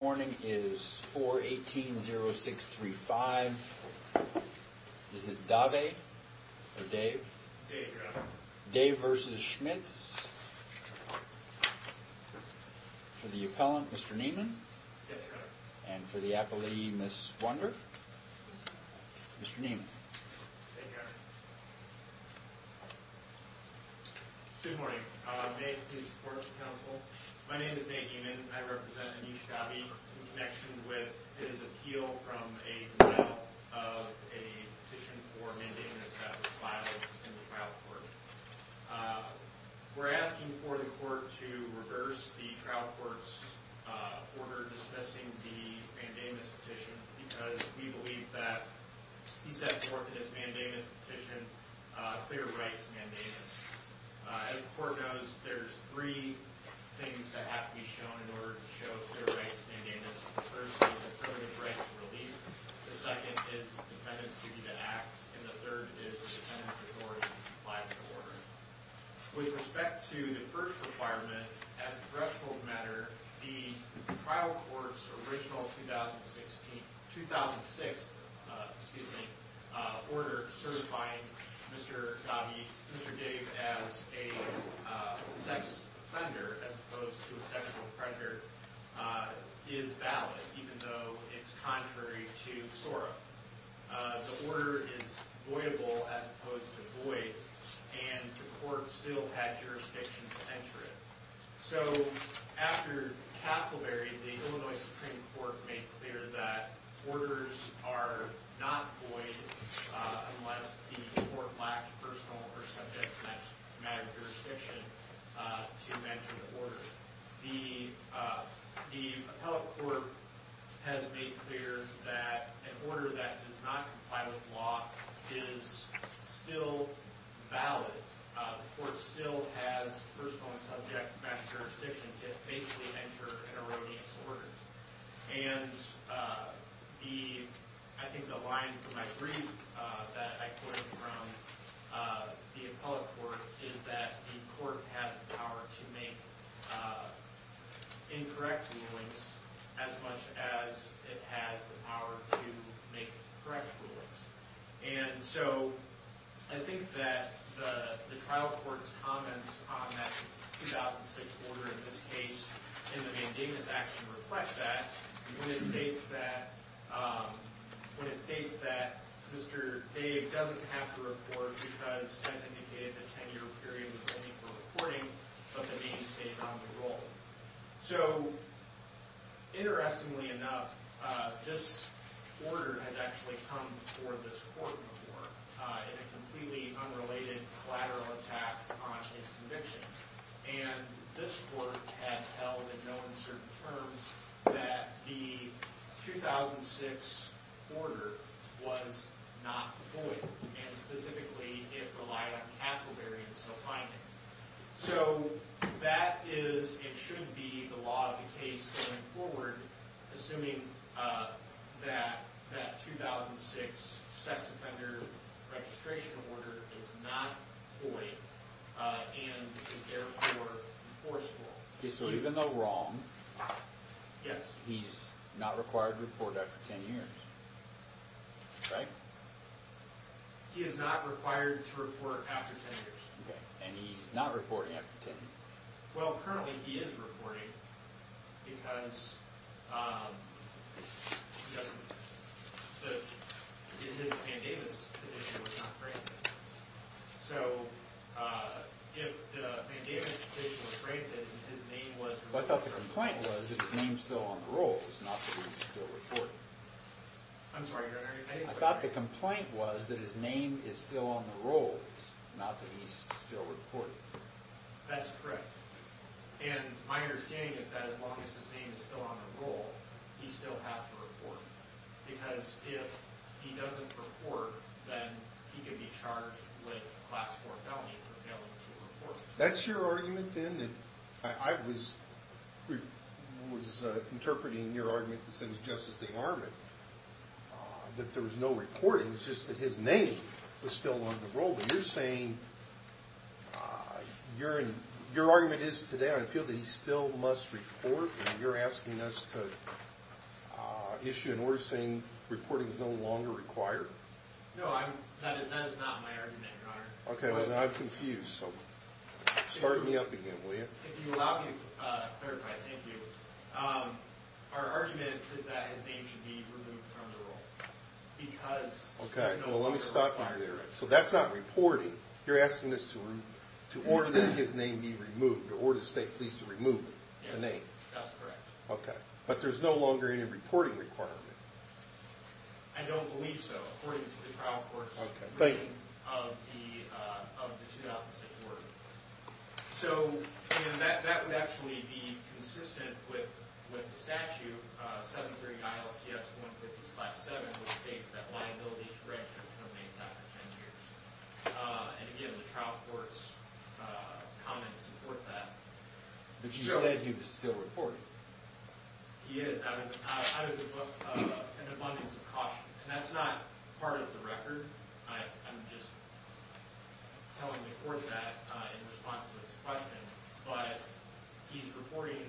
Morning is 418-0635. Is it Dave or Dave? Dave, your honor. Dave v. Schmitz. For the appellant, Mr. Niemann. Yes, your honor. And for the appellee, Ms. Wunder. Mr. Niemann. Thank you. Good morning. May I please report to counsel? My name is Nate Niemann. I represent Amish Gavi in connection with his appeal from a denial of a petition for mandamus that was filed in the trial court. We're asking for the court to reverse the trial court's order discussing the mandamus petition, clear right mandamus. As the court knows, there's three things that have to be shown in order to show clear right mandamus. The first is affirmative right to release. The second is the defendant's duty to act. And the third is the defendant's authority to comply with the order. With respect to the first requirement, as a threshold matter, the trial court's original 2006, excuse me, order certifying Mr. Gavi, Mr. Dave as a sex offender as opposed to a sexual predator is valid even though it's contrary to SORA. The order is voidable as opposed to void and the court still had jurisdiction to enter it. So after Castleberry, the Illinois Supreme Court made clear that orders are not void unless the court lacks personal or subject matter jurisdiction to enter the order. The appellate court has made clear that an order that does not comply with law is still valid. The court still has personal and subject matter jurisdiction to basically enter an erroneous order. And I think the line from my brief that I quoted from the appellate court is that the court has the power to make incorrect rulings as much as it has the power to make correct rulings. And so I think that the trial court's comments on that 2006 order in this case in the mandamus action reflect that when it states that Mr. Dave doesn't have to report because as indicated the 10-year period was only for reporting but the name stays on the roll. So interestingly enough, this order has actually come before this court before in a completely unrelated collateral attack on his conviction. And this court has held in no uncertain terms that the 2006 order was not void and specifically it relied on Castleberry and self-finding. So that is, it shouldn't be, the law of the case going forward assuming that that 2006 sex offender registration order is not void and therefore enforceable. Okay, so even though wrong, yes, he's not required to report after 10 years, right? He is not required to report after 10 years. Okay, and he's not reporting after 10? Well, currently he is reporting because his mandamus petition was not granted. So if the mandamus petition was granted and his name was... But I thought the complaint was that his name is still on the rolls, not that he's still reporting. I'm sorry, you're not hearing anything? I thought the complaint was that his name is still on the rolls, not that he's still reporting. That's correct. And my understanding is that as long as his name is still on the roll, he still has to report. Because if he doesn't report, then he could be charged with class 4 felony for failing to report. That's your argument then? I was interpreting your argument that there was no reporting, it's just that his name was still on the roll. But you're saying your argument is today, I feel that he still must report and you're asking us to issue an order saying reporting is no longer required? No, that is not my argument, Your Honor. Okay, well then I'm confused, so start me up again, will you? If you allow me to clarify, thank you. Our argument is that his name should be removed from the roll because... Okay, well let me stop you there. So that's not reporting, you're asking us to order that his name be removed, to order the state police to remove the name? Yes, that's correct. Okay, but there's no longer any reporting requirement? I don't believe so, according to the trial court's reading of the 2006 order. So that would actually be consistent with the statute, 730 ILCS 150-7, which states that liability correction remains after 10 years. And again, the trial court's comments support that. But you said he was still reporting. He is, out of an abundance of caution, and that's not part of the record. I'm just telling the court that in response to his question, but he's reporting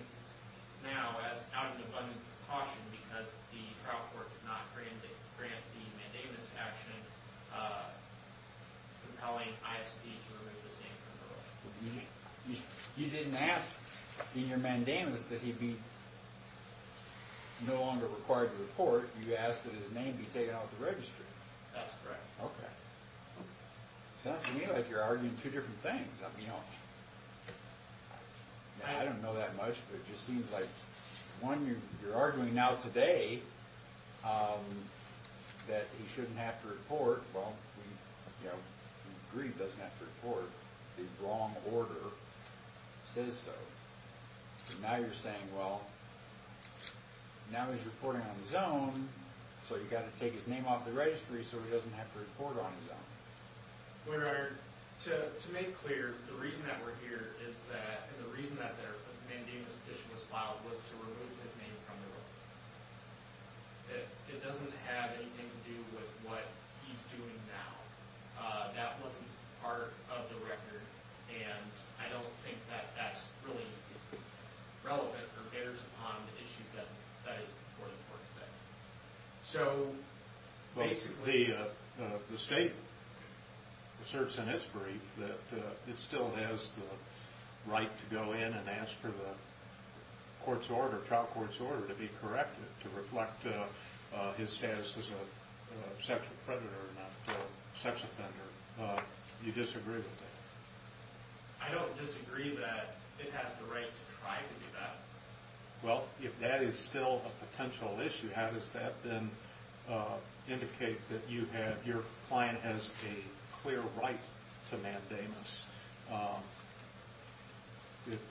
now as out of an abundance of caution because the trial court did not grant the mandamus action compelling ISP to remove his name from the roll. You didn't ask in your mandamus that he'd be no longer required to report. You asked that his name be taken out of the registry. That's correct. Okay, sounds to me like you're arguing two different things. I mean, you know, I don't know that much, but it just seems like, one, you're arguing now today that he shouldn't have to report. Well, you know, Grieve doesn't have to report. The wrong order says so. Now you're saying, well, now he's reporting on his own, so you've got to take his name off the registry so he doesn't have to report on his own. Well, your honor, to make clear, the reason that we're here is that, and the reason that their mandamus petition was filed, was to that it doesn't have anything to do with what he's doing now. That wasn't part of the record, and I don't think that that's really relevant or bears upon the issues that that is reported towards them. So basically, the state asserts in its brief that it still has the right to go in and ask for the court's order, trial court's order, to be corrected, to reflect his status as a sexual predator, not a sex offender. You disagree with that? I don't disagree that it has the right to try to do that. Well, if that is still a potential issue, how does that then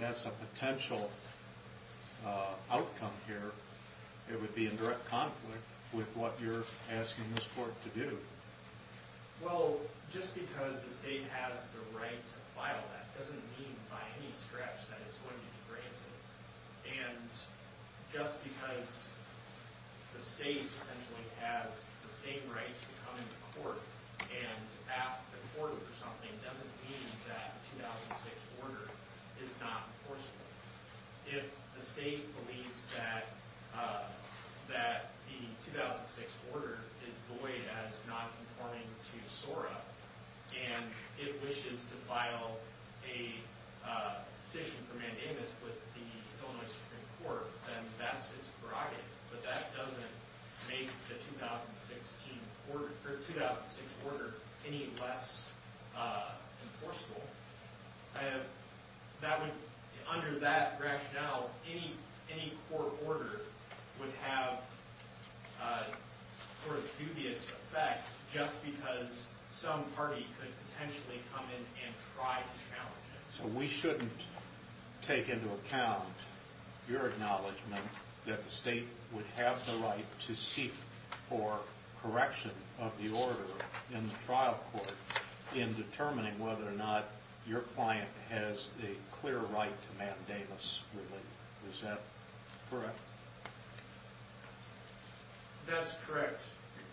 as a potential outcome here, it would be in direct conflict with what you're asking this court to do? Well, just because the state has the right to file that doesn't mean by any stretch that it's going to be granted. And just because the state essentially has the same rights to come into court and ask the court for something doesn't mean that the 2006 order is not enforceable. If the state believes that the 2006 order is void as non-conforming to SORA, and it wishes to file a petition for mandamus with the Illinois Supreme Court, then that's its prerogative. But that doesn't make the 2006 order any less enforceable. Under that rationale, any court order would have a sort of dubious effect just because some party could potentially come in and try to challenge it. So we shouldn't take into account your acknowledgement that the state would have the right to seek for correction of the order in the trial court in determining whether or not your client has a clear right to mandamus relief. Is that correct? That's correct,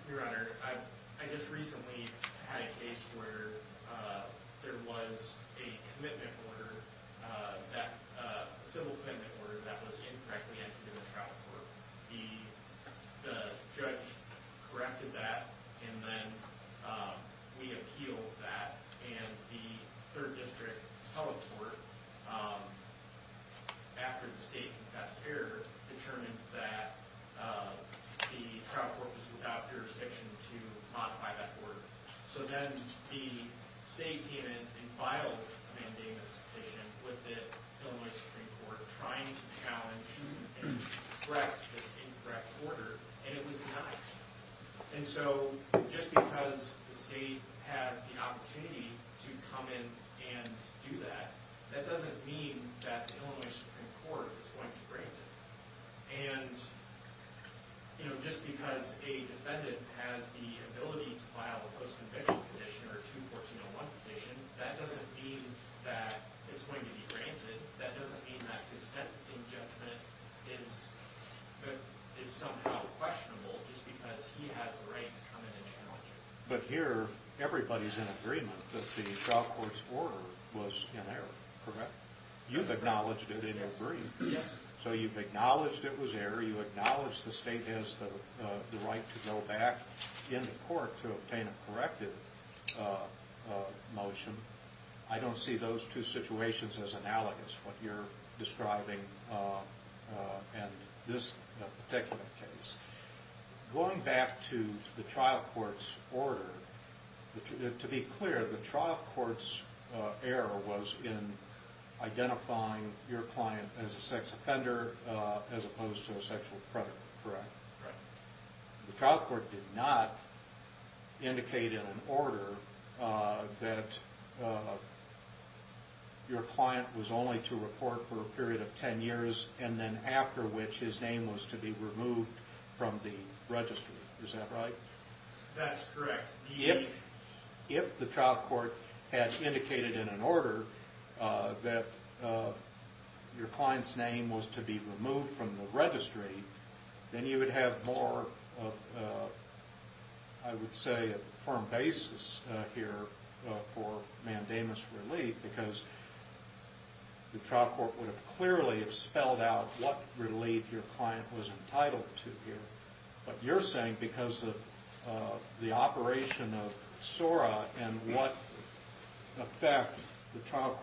Your Honor. I just recently had a case where there was a commitment order, that civil commitment order, that was incorrectly entered in the trial court. The judge corrected that, and then we appealed that. And the third district public court, after the state confessed error, determined that the trial court was without jurisdiction to Illinois Supreme Court trying to challenge and correct this incorrect order, and it was denied. And so just because the state has the opportunity to come in and do that, that doesn't mean that Illinois Supreme Court is going to grant it. And just because a defendant has the ability to file a post-conviction condition or a 2-1401 petition, that doesn't mean that it's going to be granted. That doesn't mean that his sentencing judgment is somehow questionable, just because he has the right to come in and challenge it. But here, everybody's in agreement that the trial court's order was in error, correct? You've acknowledged it in your brief. Yes. So you've acknowledged it was error. You've acknowledged the state has the right to go back in the court to obtain a corrected motion. I don't see those two situations as analogous, what you're describing in this particular case. Going back to the trial court's order, to be clear, the trial court's error was in relation to a sexual predator, correct? Correct. The trial court did not indicate in an order that your client was only to report for a period of 10 years, and then after which his name was to be removed from the registry. Is that right? That's correct. If the trial court had indicated in an order to remove him from the registry, then you would have more of, I would say, a firm basis here for mandamus relief, because the trial court would have clearly spelled out what relief your client was entitled to here. But you're saying because of the operation of SORA and what effect the trial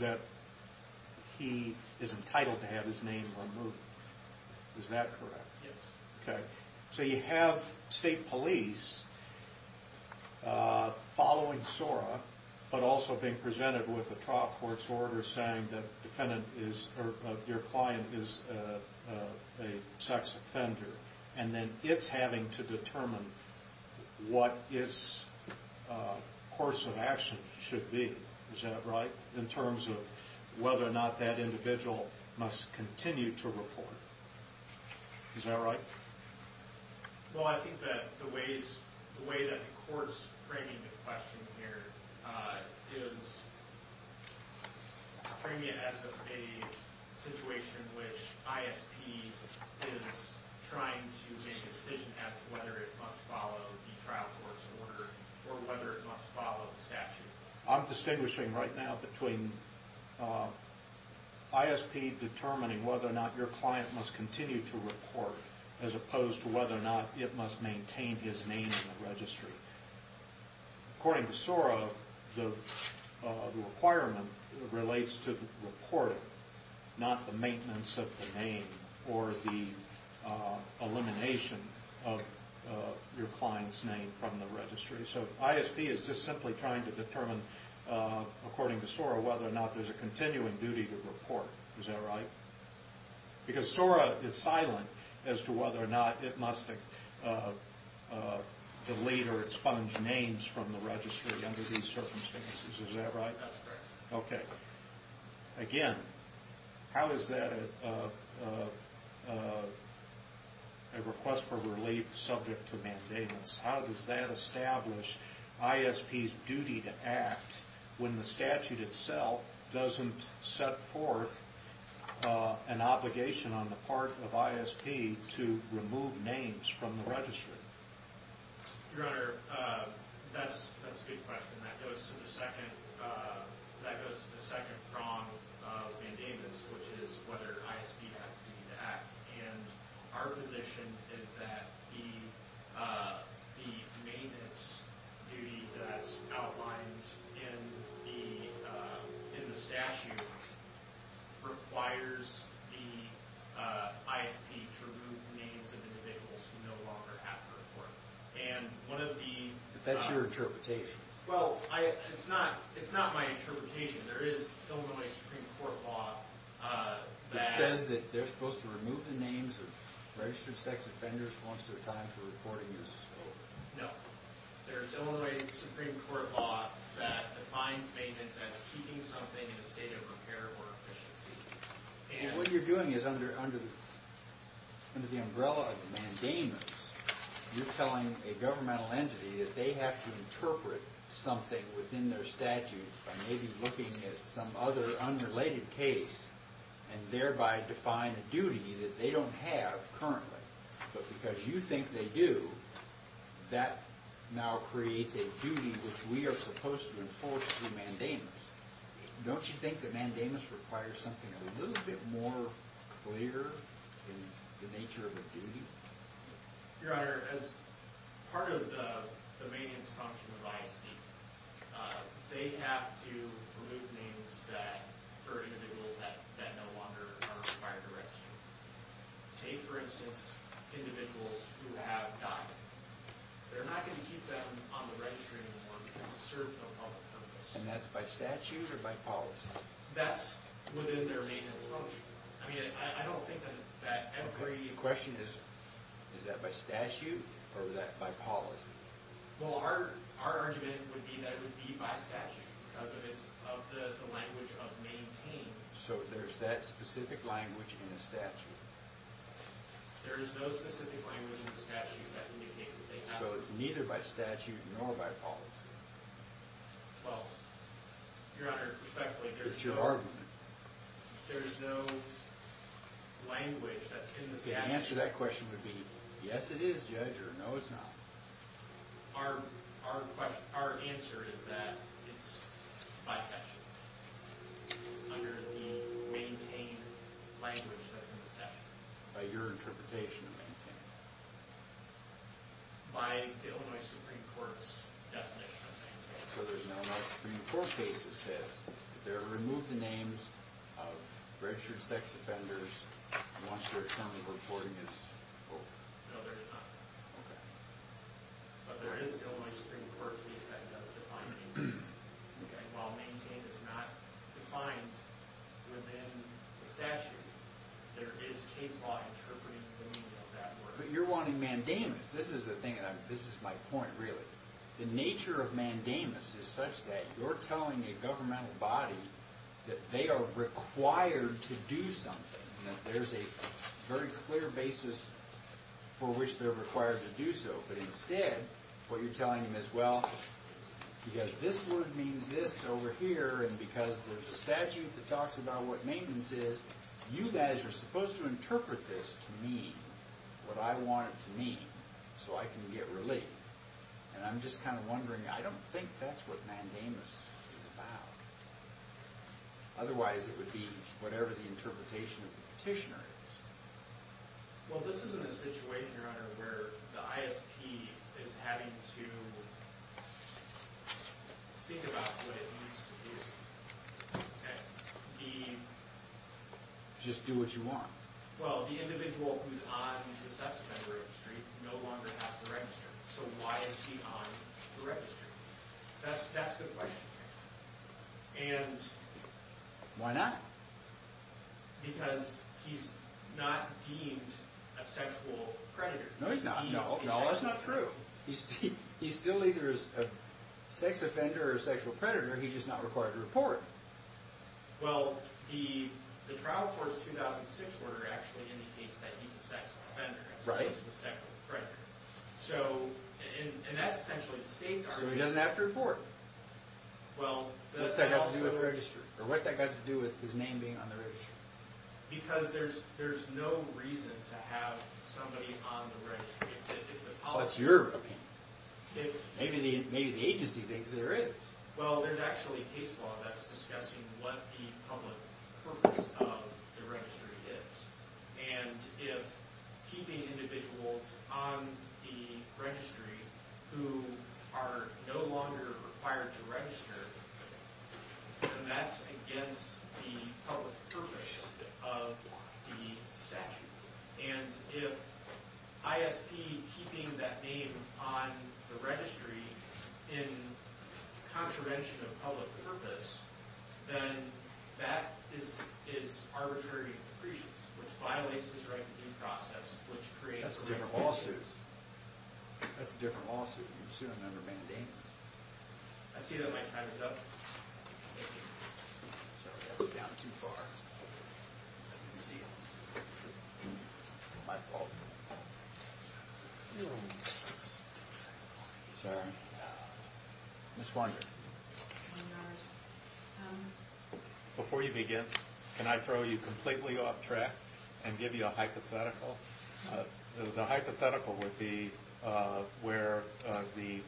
that he is entitled to have his name removed. Is that correct? Yes. Okay. So you have state police following SORA, but also being presented with the trial court's order saying that defendant is, or your client is a sex offender, and then it's having to determine what its course of action should be. Is that right? In terms of whether or not that individual must continue to report. Is that right? Well, I think that the way that the court's framing the question here is framing it as a situation in which ISP is trying to make a decision as to whether it must follow the trial court's order or whether it must follow the statute. I'm distinguishing right now between ISP determining whether or not your client must continue to report as opposed to whether or not it must maintain his name in the registry. According to SORA, the requirement relates to reporting, not the maintenance of the name or the elimination of your client's name from the registry. So ISP is just simply trying to determine according to SORA whether or not there's a continuing duty to report. Is that right? Because SORA is silent as to whether or not it must delete or expunge names from the registry under these circumstances. Is that right? That's correct. Okay. Again, how is that a request for relief subject to mandamus? How does that establish ISP's duty to act when the statute itself doesn't set forth an obligation on the part of ISP to remove names from the registry? Your Honor, that's a good question. That goes to the second prong of mandamus, which is whether ISP has a duty to act. And our position is that the maintenance duty that's outlined in the statute requires the ISP to remove the names of individuals who no longer have to report. That's your interpretation. Well, it's not my interpretation. There is Illinois Supreme Court law that says that they're supposed to remove the names of registered sex offenders once their time for reporting is over. No. There's Illinois Supreme Court law that defines maintenance as keeping something in a state of repair or efficiency. And what you're doing is under the umbrella of the mandamus, you're telling a governmental entity that they have to interpret something within their statute by maybe looking at some other unrelated case and thereby define a duty that they don't have currently. But because you think they do, that now creates a duty which we are supposed to enforce through mandamus. Don't you think the mandamus requires something a little bit more clear in the nature of the duty? Your Honor, as part of the maintenance function of ISP, they have to remove names that for individuals that no longer are required to register. Take, for instance, individuals who have died. They're not going to keep them on the registry anymore because it serves no public purpose. And that's by statute or by policy? That's within their maintenance function. I mean, I don't think that every... Is that by statute or by policy? Well, our argument would be that it would be by statute because of the language of maintain. So there's that specific language in the statute? There is no specific language in the statute that indicates that they have... So it's neither by statute nor by policy? Well, Your Honor, respectfully... It's your argument. There's no language that's in the statute. The answer to that question would be, yes, it is, Judge, or no, it's not. Our answer is that it's by statute, under the maintain language that's in the statute. By your interpretation of maintain? By the Illinois Supreme Court's definition of maintain. So there's an Illinois Supreme Court case that says that they're removed the names of registered sex offenders once their term of reporting is over? No, there's not. But there is an Illinois Supreme Court case that does define maintain. While maintain is not defined within the statute, there is case law interpreting the meaning of that word. But you're wanting mandamus. This is the thing. This is my point, really. The nature of mandamus is such that you're telling a governmental body that they are required to do something, that there's a very clear basis for which they're required to do so. But instead, what you're telling them is, well, because this word means this over here, and because there's a statute that talks about what maintenance is, you guys are supposed to interpret this to mean what I want it to mean so I can get relief. And I'm just kind of wondering, I don't think that's what mandamus is about. Otherwise, it would be whatever the interpretation of the petitioner is. Well, this isn't a situation, Your Honor, where the ISP is having to think about what it needs to do. Just do what you want. Well, the individual who's on the sex offender registry no longer has to register. So why is he on the registry? That's the question. And why not? Because he's not deemed a sexual predator. No, he's not. No, that's not true. He's still either a sex offender or a sexual predator. He's just not required to report. Well, the trial court's 2006 order actually indicates that he's a sex offender, as opposed to a sexual predator. So, and that's essentially the state's argument. So he doesn't have to report. Well, what's that got to do with the registry? Or what's that got to do with his name being on the registry? Because there's no reason to have somebody on the registry. What's your opinion? Maybe the agency thinks there is. Well, there's actually a case law that's discussing what the public purpose of the registry is. And if keeping individuals on the registry who are no longer required to register, that's against the public purpose of the statute. And if ISP keeping that name on the registry in contravention of public purpose, then that is arbitrary decreases, which violates his right to due process, which creates... That's a different lawsuit. That's a different lawsuit. You assume a number of mandates. I see that my time is up. Thank you. Sorry, I was down too far. Let me see. My fault. Sorry. Ms. Funger. Before you begin, can I throw you completely off track and give you a hypothetical? The hypothetical would be where the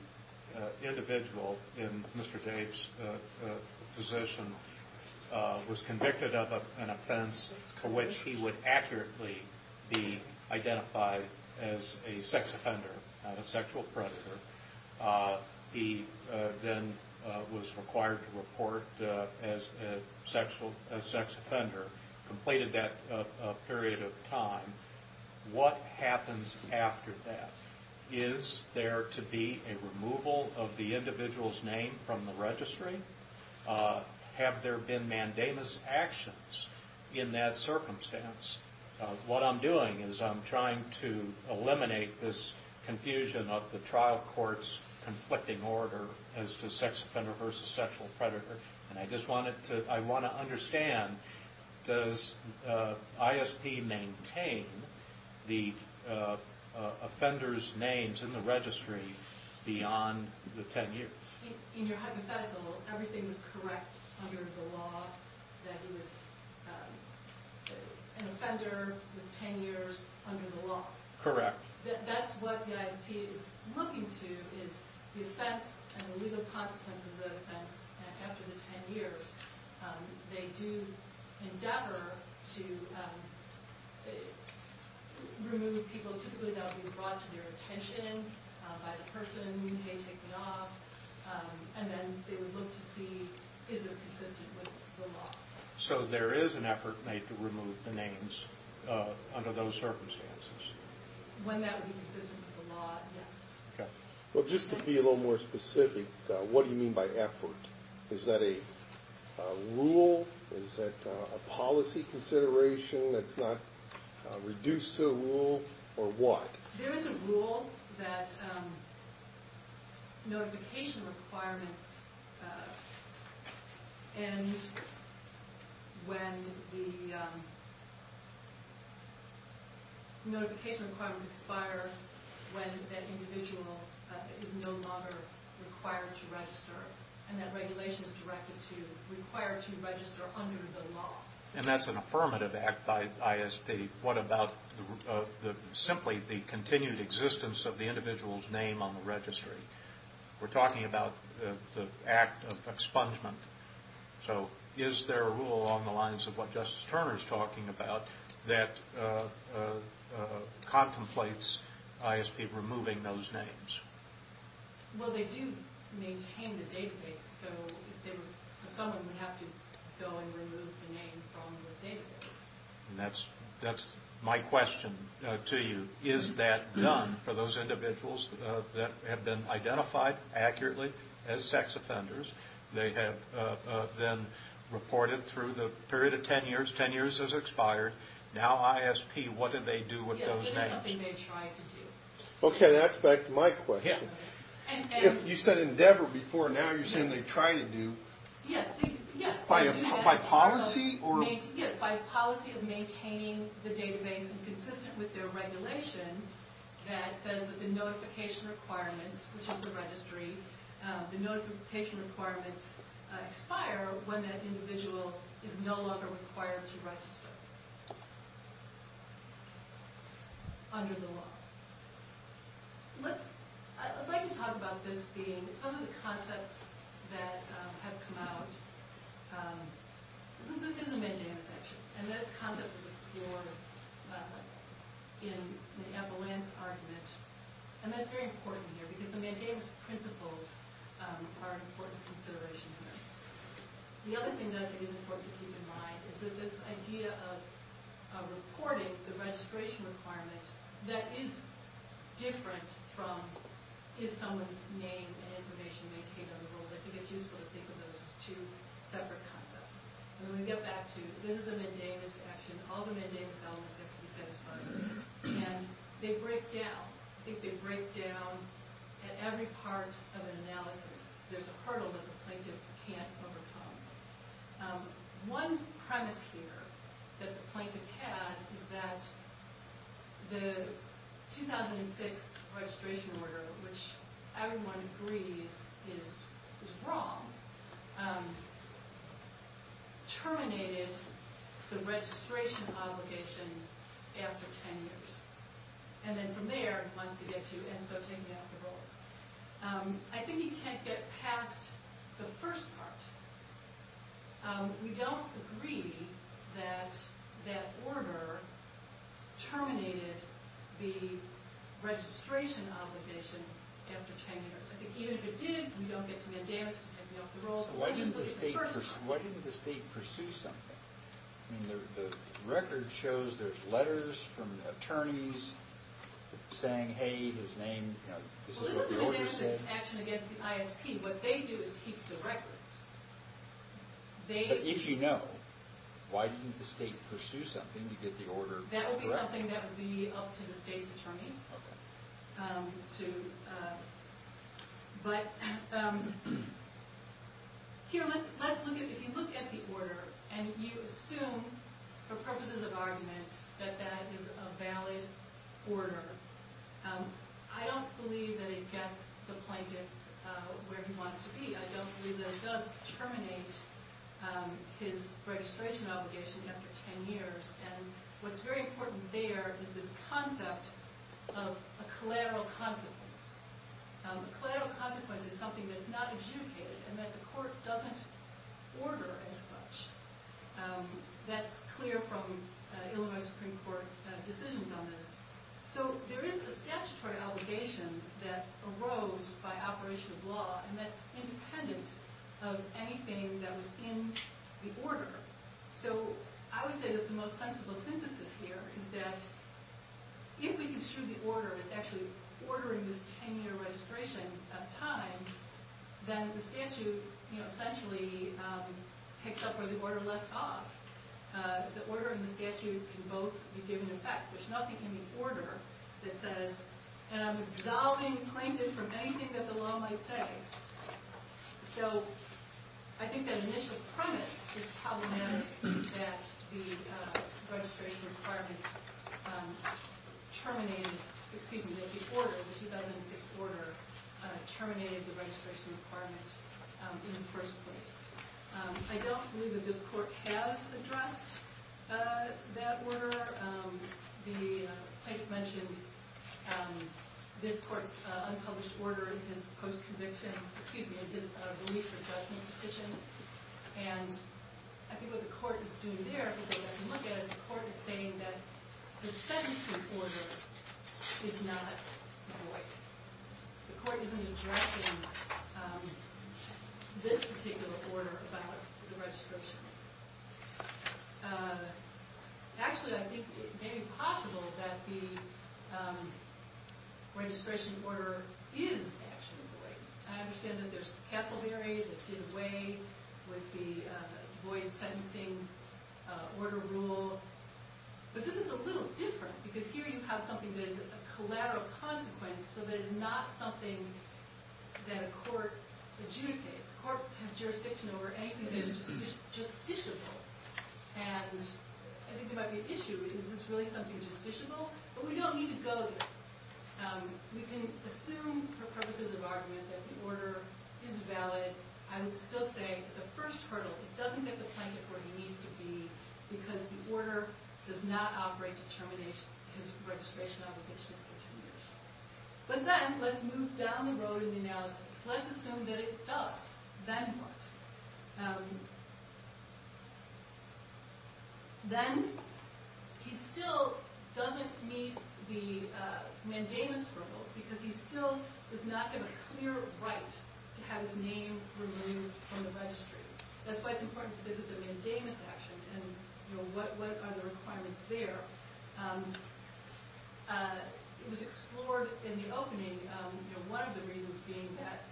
individual in Mr. Dave's position was convicted of an offense for which he would accurately be identified as a sex offender, not a sexual predator. He then was required to report as a sex offender, completed that period of time, what happens after that? Is there to be a removal of the individual's name from the registry? Have there been mandamus actions in that circumstance? What I'm doing is I'm trying to eliminate this confusion of the trial court's conflicting order as to sex offender versus sexual predator. And I just want to understand, does ISP maintain the offender's names in the registry beyond the 10 years? In your hypothetical, everything is correct under the law that he was an offender with 10 years under the law. Correct. That's what the ISP is looking to, is the offense and the legal consequences of the offense after the 10 years. They do endeavor to remove people. Typically, that would be brought to their attention by the person, hey, take it off. And then they would look to see, is this consistent with the law? So there is an effort made to remove the names under those circumstances? When that would be consistent with the law, yes. Okay. Well, just to be a little more specific, what do you mean by effort? Is that a rule? Is that a policy consideration that's not reduced to a rule? Or what? There is a rule that notification requirements end when the notification requirements expire when that individual is no longer required to register. And that regulation is directed to require to register under the law. And that's an affirmative act by ISP. What about simply the continued existence of the individual's name on the registry? We're talking about the act of expungement. So is there a rule along the lines of what Justice Turner is talking about that contemplates ISP removing those names? Well, they do maintain the database. So someone would have to go and remove the name from the database. And that's my question to you. Is that done for those individuals that have been identified accurately as sex offenders? They have then reported through the period of 10 years. 10 years has expired. Now ISP, what do they do with those names? Yes, this is something they try to do. Okay. That's back to my question. If you said endeavor before, now you're saying they try to do. Yes, yes. By policy? Yes, by policy of maintaining the database and consistent with their regulation that says that the notification requirements, which is the registry, the notification requirements expire when that individual is no longer required to register under the law. I'd like to talk about this being some of the concepts that have come out. This is a mandamus section. And that concept was explored in the Avalanche argument. And that's very important here because the mandamus principles are an important consideration. The other thing that I think is important to keep in mind is that this idea of reporting the registration requirement that is different from is someone's name and information maintained under the rules. I think it's useful to think of those as two separate concepts. And when we get back to this is a mandamus section, all the mandamus elements have to break down at every part of an analysis. There's a hurdle that the plaintiff can't overcome. One premise here that the plaintiff has is that the 2006 registration order, which everyone agrees is wrong, terminated the registration obligation after 10 years. And then from there, once you get to, and so taking off the rules. I think you can't get past the first part. We don't agree that that order terminated the registration obligation after 10 years. I think even if it did, we don't get to the mandamus to take off the rules. So why didn't the state pursue something? I mean, the record shows there's letters from the attorneys saying, hey, his name, you know, this is what the order said. Well, this isn't an action against the ISP. What they do is keep the records. But if you know, why didn't the state pursue something to get the order correct? That would be something that would be up to the state's attorney. But here, let's look at, if you look at the order and you assume for purposes of argument that that is a valid order. I don't believe that it gets the plaintiff where he wants to be. I don't believe that it does terminate his registration obligation after 10 years. And what's very important there is this concept of a collateral consequence. A collateral consequence is something that's not adjudicated and that the court doesn't order as such. That's clear from Illinois Supreme Court decisions on this. So there is a statutory obligation that arose by operation of law. So I would say that the most sensible synthesis here is that if we can assume the order is actually ordering this 10-year registration of time, then the statute, you know, essentially picks up where the order left off. The order and the statute can both be given effect. There's nothing in the order that says, and I'm absolving the plaintiff from anything that the law might say. So I think that initial premise is problematic, that the registration requirement terminated – excuse me, that the order, the 2006 order, terminated the registration requirement in the first place. I don't believe that this court has addressed that order. The plaintiff mentioned this court's unpublished order in his post-conviction – excuse me, in his relief for judgment petition. And I think what the court is doing there, if we take a look at it, the court is saying that the sentencing order is not void. The court isn't addressing this particular order about the registration. Actually, I think it may be possible that the registration order is actually void. I understand that there's Casselberry that did away with the void sentencing order rule. But this is a little different, because here you have something that is a collateral consequence, so that it's not something that a court adjudicates. This court has jurisdiction over anything that is justiciable. And I think we might be at issue. Is this really something justiciable? But we don't need to go there. We can assume for purposes of argument that the order is valid. I would still say that the first hurdle, it doesn't get the plaintiff where he needs to be, because the order does not operate to terminate his registration obligation for two years. But then, let's move down the road in the analysis. Let's assume that it does. Then what? Then, he still doesn't meet the mandamus hurdles, because he still does not have a clear right to have his name removed from the registry. That's why it's important that this is a mandamus action. And what are the requirements there? It was explored in the opening, one of the reasons being that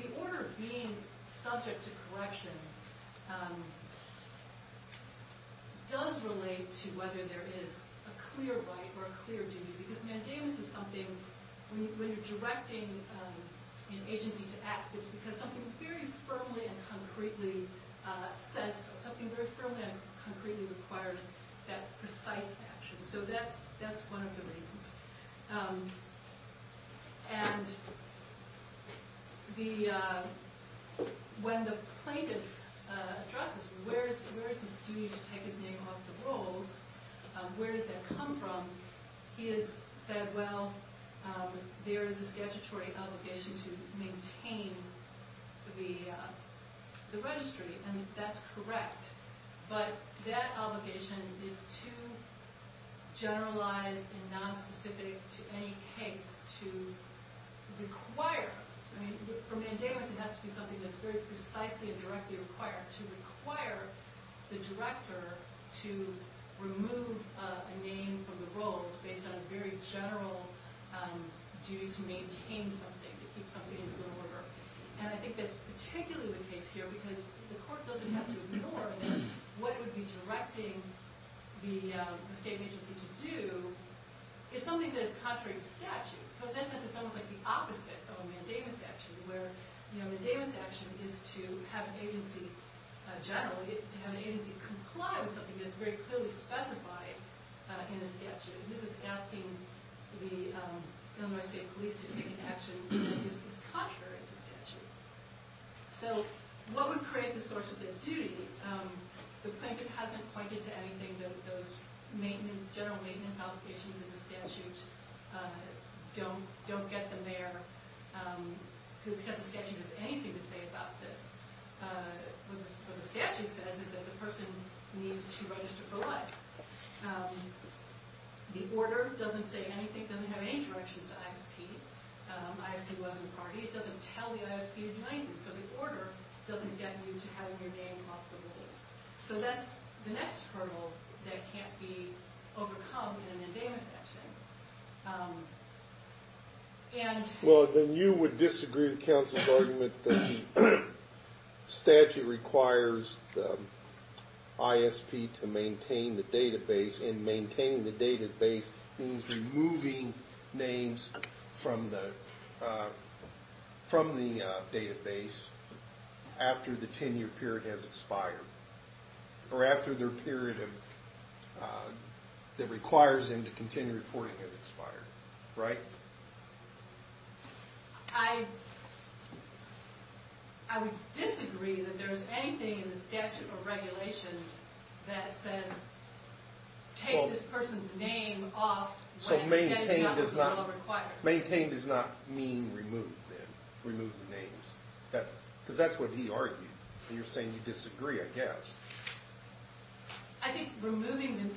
the order being subject to correction does relate to whether there is a clear right or a clear duty. Because mandamus is something, when you're directing an agency to act, it's because something very firmly and concretely says, something very firmly and concretely requires that precise action. So that's one of the reasons. And when the plaintiff addresses, where is this duty to take his name off the rolls? Where does that come from? He has said, well, there is a statutory obligation to maintain the registry. And that's correct. But that obligation is too generalized and nonspecific to any case to require. For mandamus, it has to be something that's very precisely and directly required, to require the director to remove a name from the rolls based on a very general duty to maintain something, to keep something in order. And I think that's particularly the case here, because the court doesn't have to determine what it would be directing the state agency to do. It's something that is contrary to statute. So in that sense, it's almost like the opposite of a mandamus action, where a mandamus action is to have an agency, generally, to have an agency comply with something that's very clearly specified in a statute. And this is asking the Illinois State Police to take an action that is contrary to statute. So what would create the source of the duty? The plaintiff hasn't pointed to anything that those general maintenance obligations in the statute don't get them there. To accept the statute doesn't have anything to say about this. What the statute says is that the person needs to register for life. The order doesn't say anything. It doesn't have any directions to ISP. ISP wasn't a party. It doesn't tell the ISP to do anything. So the order doesn't get you to have your name off the list. So that's the next hurdle that can't be overcome in a mandamus action. Well, then you would disagree with counsel's argument that the statute requires the ISP to maintain the database. And maintaining the database means removing names from the database after the 10-year period has expired. Or after their period that requires them to continue reporting has expired, right? I would disagree that there's anything in the statute or regulations that says take this person's name off when that is not what the law requires. Maintain does not mean remove the names. Because that's what he argued. You're saying you disagree, I guess. I think maintaining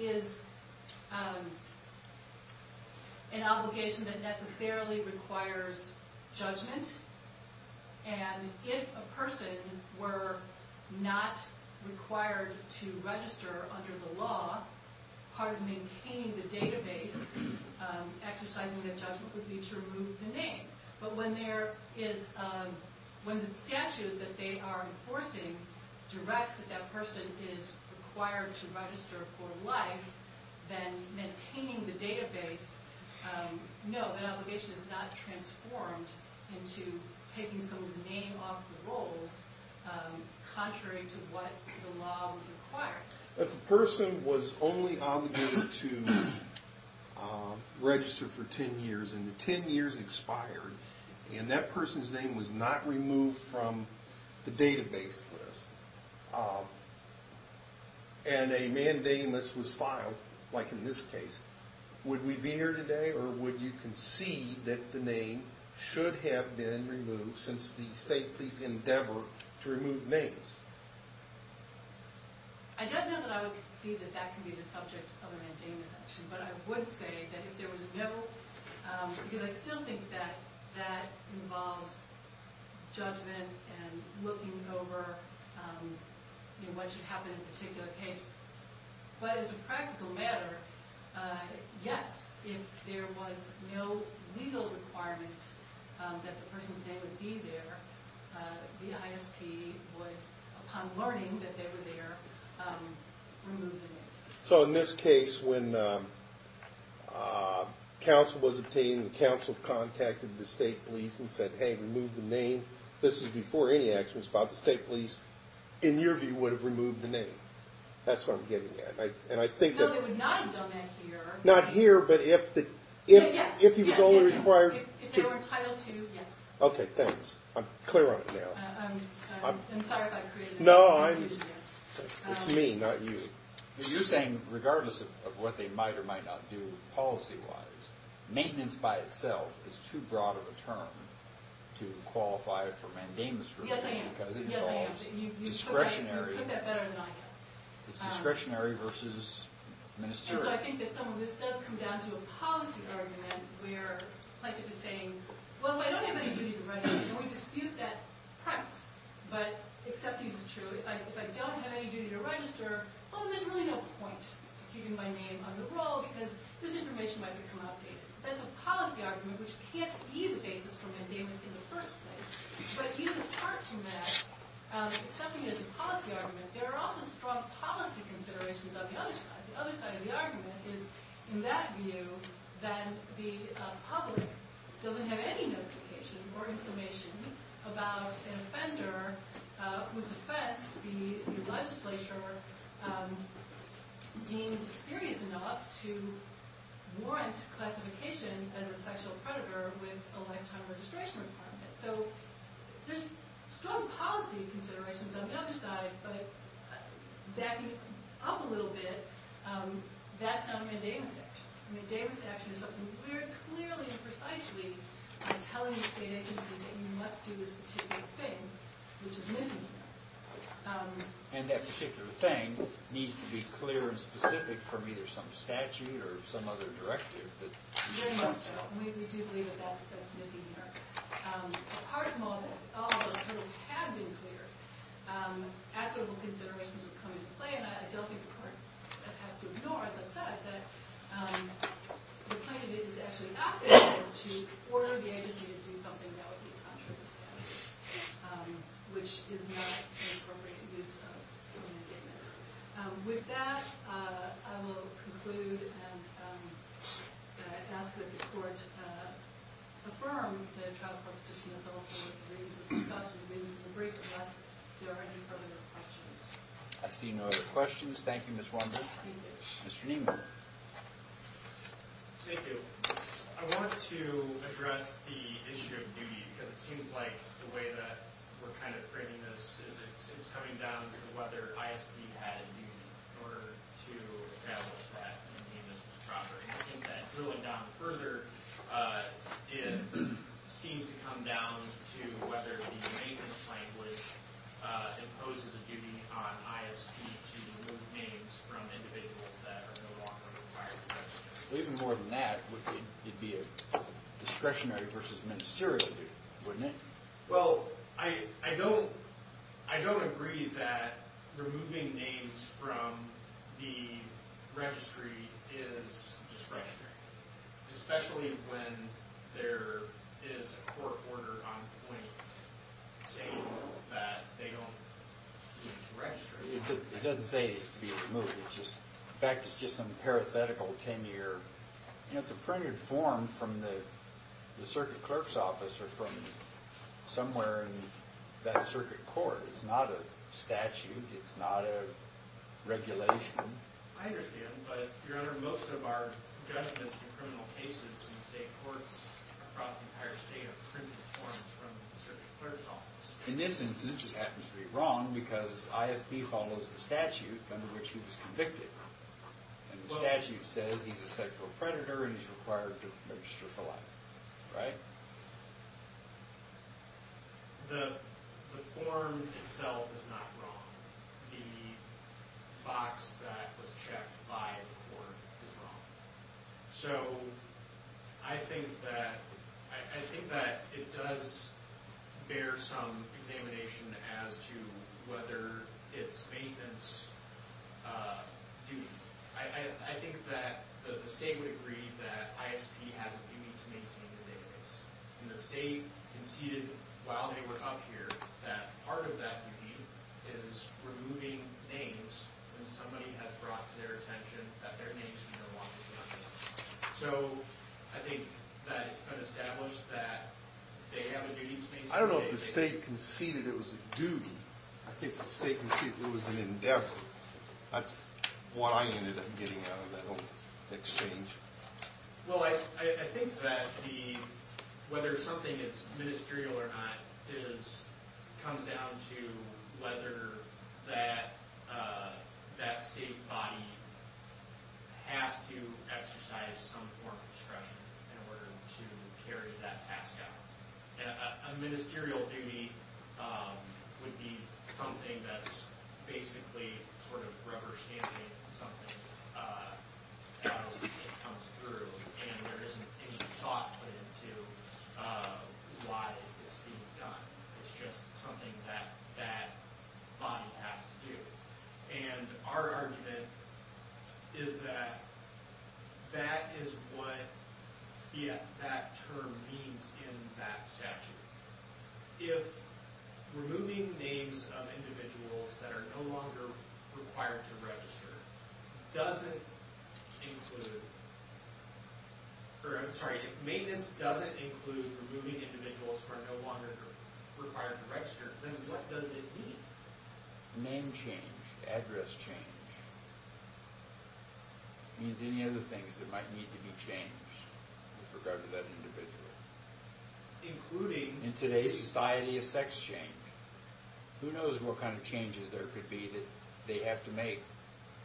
is an obligation that necessarily requires judgment. And if a person were not required to register under the law, part of maintaining the database exercising that judgment would be to remove the name. But when the statute that they are enforcing directs that that person is required to register for life, then maintaining the database, no, that obligation is not transformed into taking someone's name off the rolls contrary to what the law would require. If a person was only obligated to register for 10 years and the 10 years expired, and that person's name was not removed from the database list, and a mandamus was filed, like in this case, would we be here today or would you concede that the name should have been removed since the state police endeavor to remove names? I don't know that I would concede that that could be the subject of a mandamus action. But I would say that if there was no, because I still think that that involves judgment and looking over what should happen in a particular case. But as a practical matter, yes, if there was no legal requirement that the person today would be there, the ISP would, upon learning that they were there, remove the name. So in this case, when counsel was obtained and counsel contacted the state police and said, hey, remove the name, this is before any action was filed, the state police, in your view, would have removed the name. That's what I'm getting at. And I think that- No, they would not have done that here. Not here, but if he was only required- If they were entitled to, yes. OK, thanks. I'm clear on it now. I'm sorry if I created- No, it's me, not you. You're saying, regardless of what they might or might not do policy-wise, maintenance by itself is too broad of a term to qualify for mandamus scrutiny because it involves discretionary- You put that better than I did. It's discretionary versus ministerial. And so I think that some of this does come down to a policy argument where, like you were saying, well, if I don't have any duty to register, and we dispute that perhaps, but except this is true, if I don't have any duty to register, well, then I'm going to do it. And there's really no point to keeping my name on the roll because this information might become outdated. That's a policy argument, which can't be the basis for mandamus in the first place. But even apart from that, it's definitely a policy argument. There are also strong policy considerations on the other side. The other side of the argument is, in that view, that the public doesn't have any notification or information about an offender whose offense the legislature deemed serious enough to warrant classification as a sexual predator with a lifetime registration requirement. So there's strong policy considerations on the other side. But backing up a little bit, that's not a mandamus action. A mandamus action is something we're clearly and precisely telling the state agency that you must do this particular thing, which is missing here. And that particular thing needs to be clear and specific from either some statute or some other directive that you must have. Very much so. And we do believe that that's missing here. Apart from all of that, all of those things have been cleared. And I don't think the court has to ignore, as I've said, that the plaintiff is actually asking the court to order the agency to do something that would be contrary to statute, which is not an appropriate use of the mandamus. With that, I will conclude and ask that the court affirm the trial court's dismissal discussion with the brief, unless there are any further questions. I see no other questions. Thank you, Ms. Wonder. Mr. Niemann. Thank you. I want to address the issue of duty, because it seems like the way that we're kind of framing this is it's coming down to whether ISP had a duty in order to establish that mandamus was proper. And I think that drilling down further, it seems to come down to whether the mandamus language imposes a duty on ISP to remove names from individuals that are no longer required to register. Well, even more than that, it'd be a discretionary versus ministerial duty, wouldn't it? Well, I don't agree that removing names from the registry is discretionary, especially when there is a court order on point saying that they don't need to register. It doesn't say it needs to be removed. In fact, it's just some parathetical tenure. It's a printed form from the circuit clerk's office or from somewhere in that circuit court. It's not a statute. It's not a regulation. I understand. But, Your Honor, most of our judgments in criminal cases in state courts across the entire state are printed forms from the circuit clerk's office. In this instance, it happens to be wrong, because ISP follows the statute under which he was convicted. And the statute says he's a sexual predator and he's required to register for life, right? The form itself is not wrong. The box that was checked by the court is wrong. So I think that it does bear some examination as to whether its maintenance duty. I think that the state would agree that ISP has a duty to maintain the database. And the state conceded while they were up here that part of that duty is removing names when somebody has brought to their attention that their name is in their walkie-talkie. So I think that it's been established that they have a duty to maintain the database. I don't know if the state conceded it was a duty. I think the state conceded it was an endeavor. That's what I ended up getting out of that whole exchange. Well, I think that whether something is ministerial or not comes down to whether that state body has to exercise some form of discretion in order to carry that task out. A ministerial duty would be something that's basically sort of rubber-stamping something as it comes through. And there isn't any thought put into why it's being done. It's just something that that body has to do. And our argument is that that is what that term means in that statute. If removing names of individuals that are no longer required to register doesn't include or I'm sorry if maintenance doesn't include removing individuals who are no longer required to register, then what does it mean? Name change, address change, means any other things that might need to be changed with regard to that individual. In today's society of sex change, who knows what kind of changes there could be that they have to make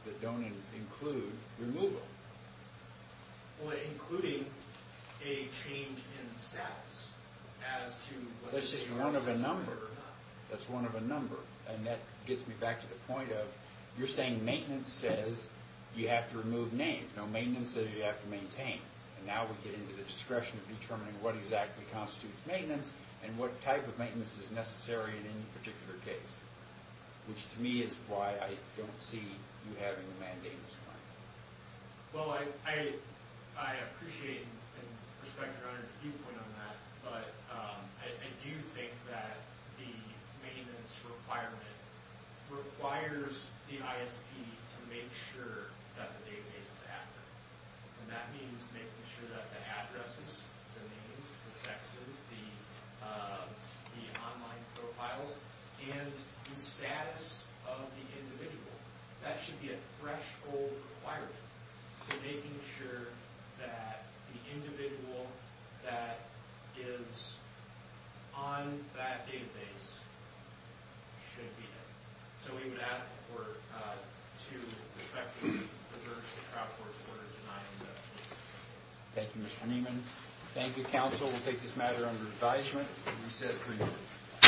that don't include removal. Including a change in status as to whether... That's just one of a number. That's one of a number. And that gets me back to the point of you're saying maintenance says you have to remove names. No, maintenance says you have to maintain. And now we get into the discretion of determining what exactly constitutes maintenance and what type of maintenance is necessary in any particular case. Which to me is why I don't see you having a mandate. Well, I appreciate and respect your viewpoint on that, but I do think that the maintenance requirement requires the ISP to make sure that the database is active. And that means making sure that the addresses, the names, the sexes, the online profiles, and the status of the individual. That should be a threshold required. So making sure that the individual that is on that database should be there. So we would ask the court to respectfully reverse the crowd court's order denying that. Thank you, Mr. Niemann. Thank you, counsel. We'll take this matter under advisement and recess briefly.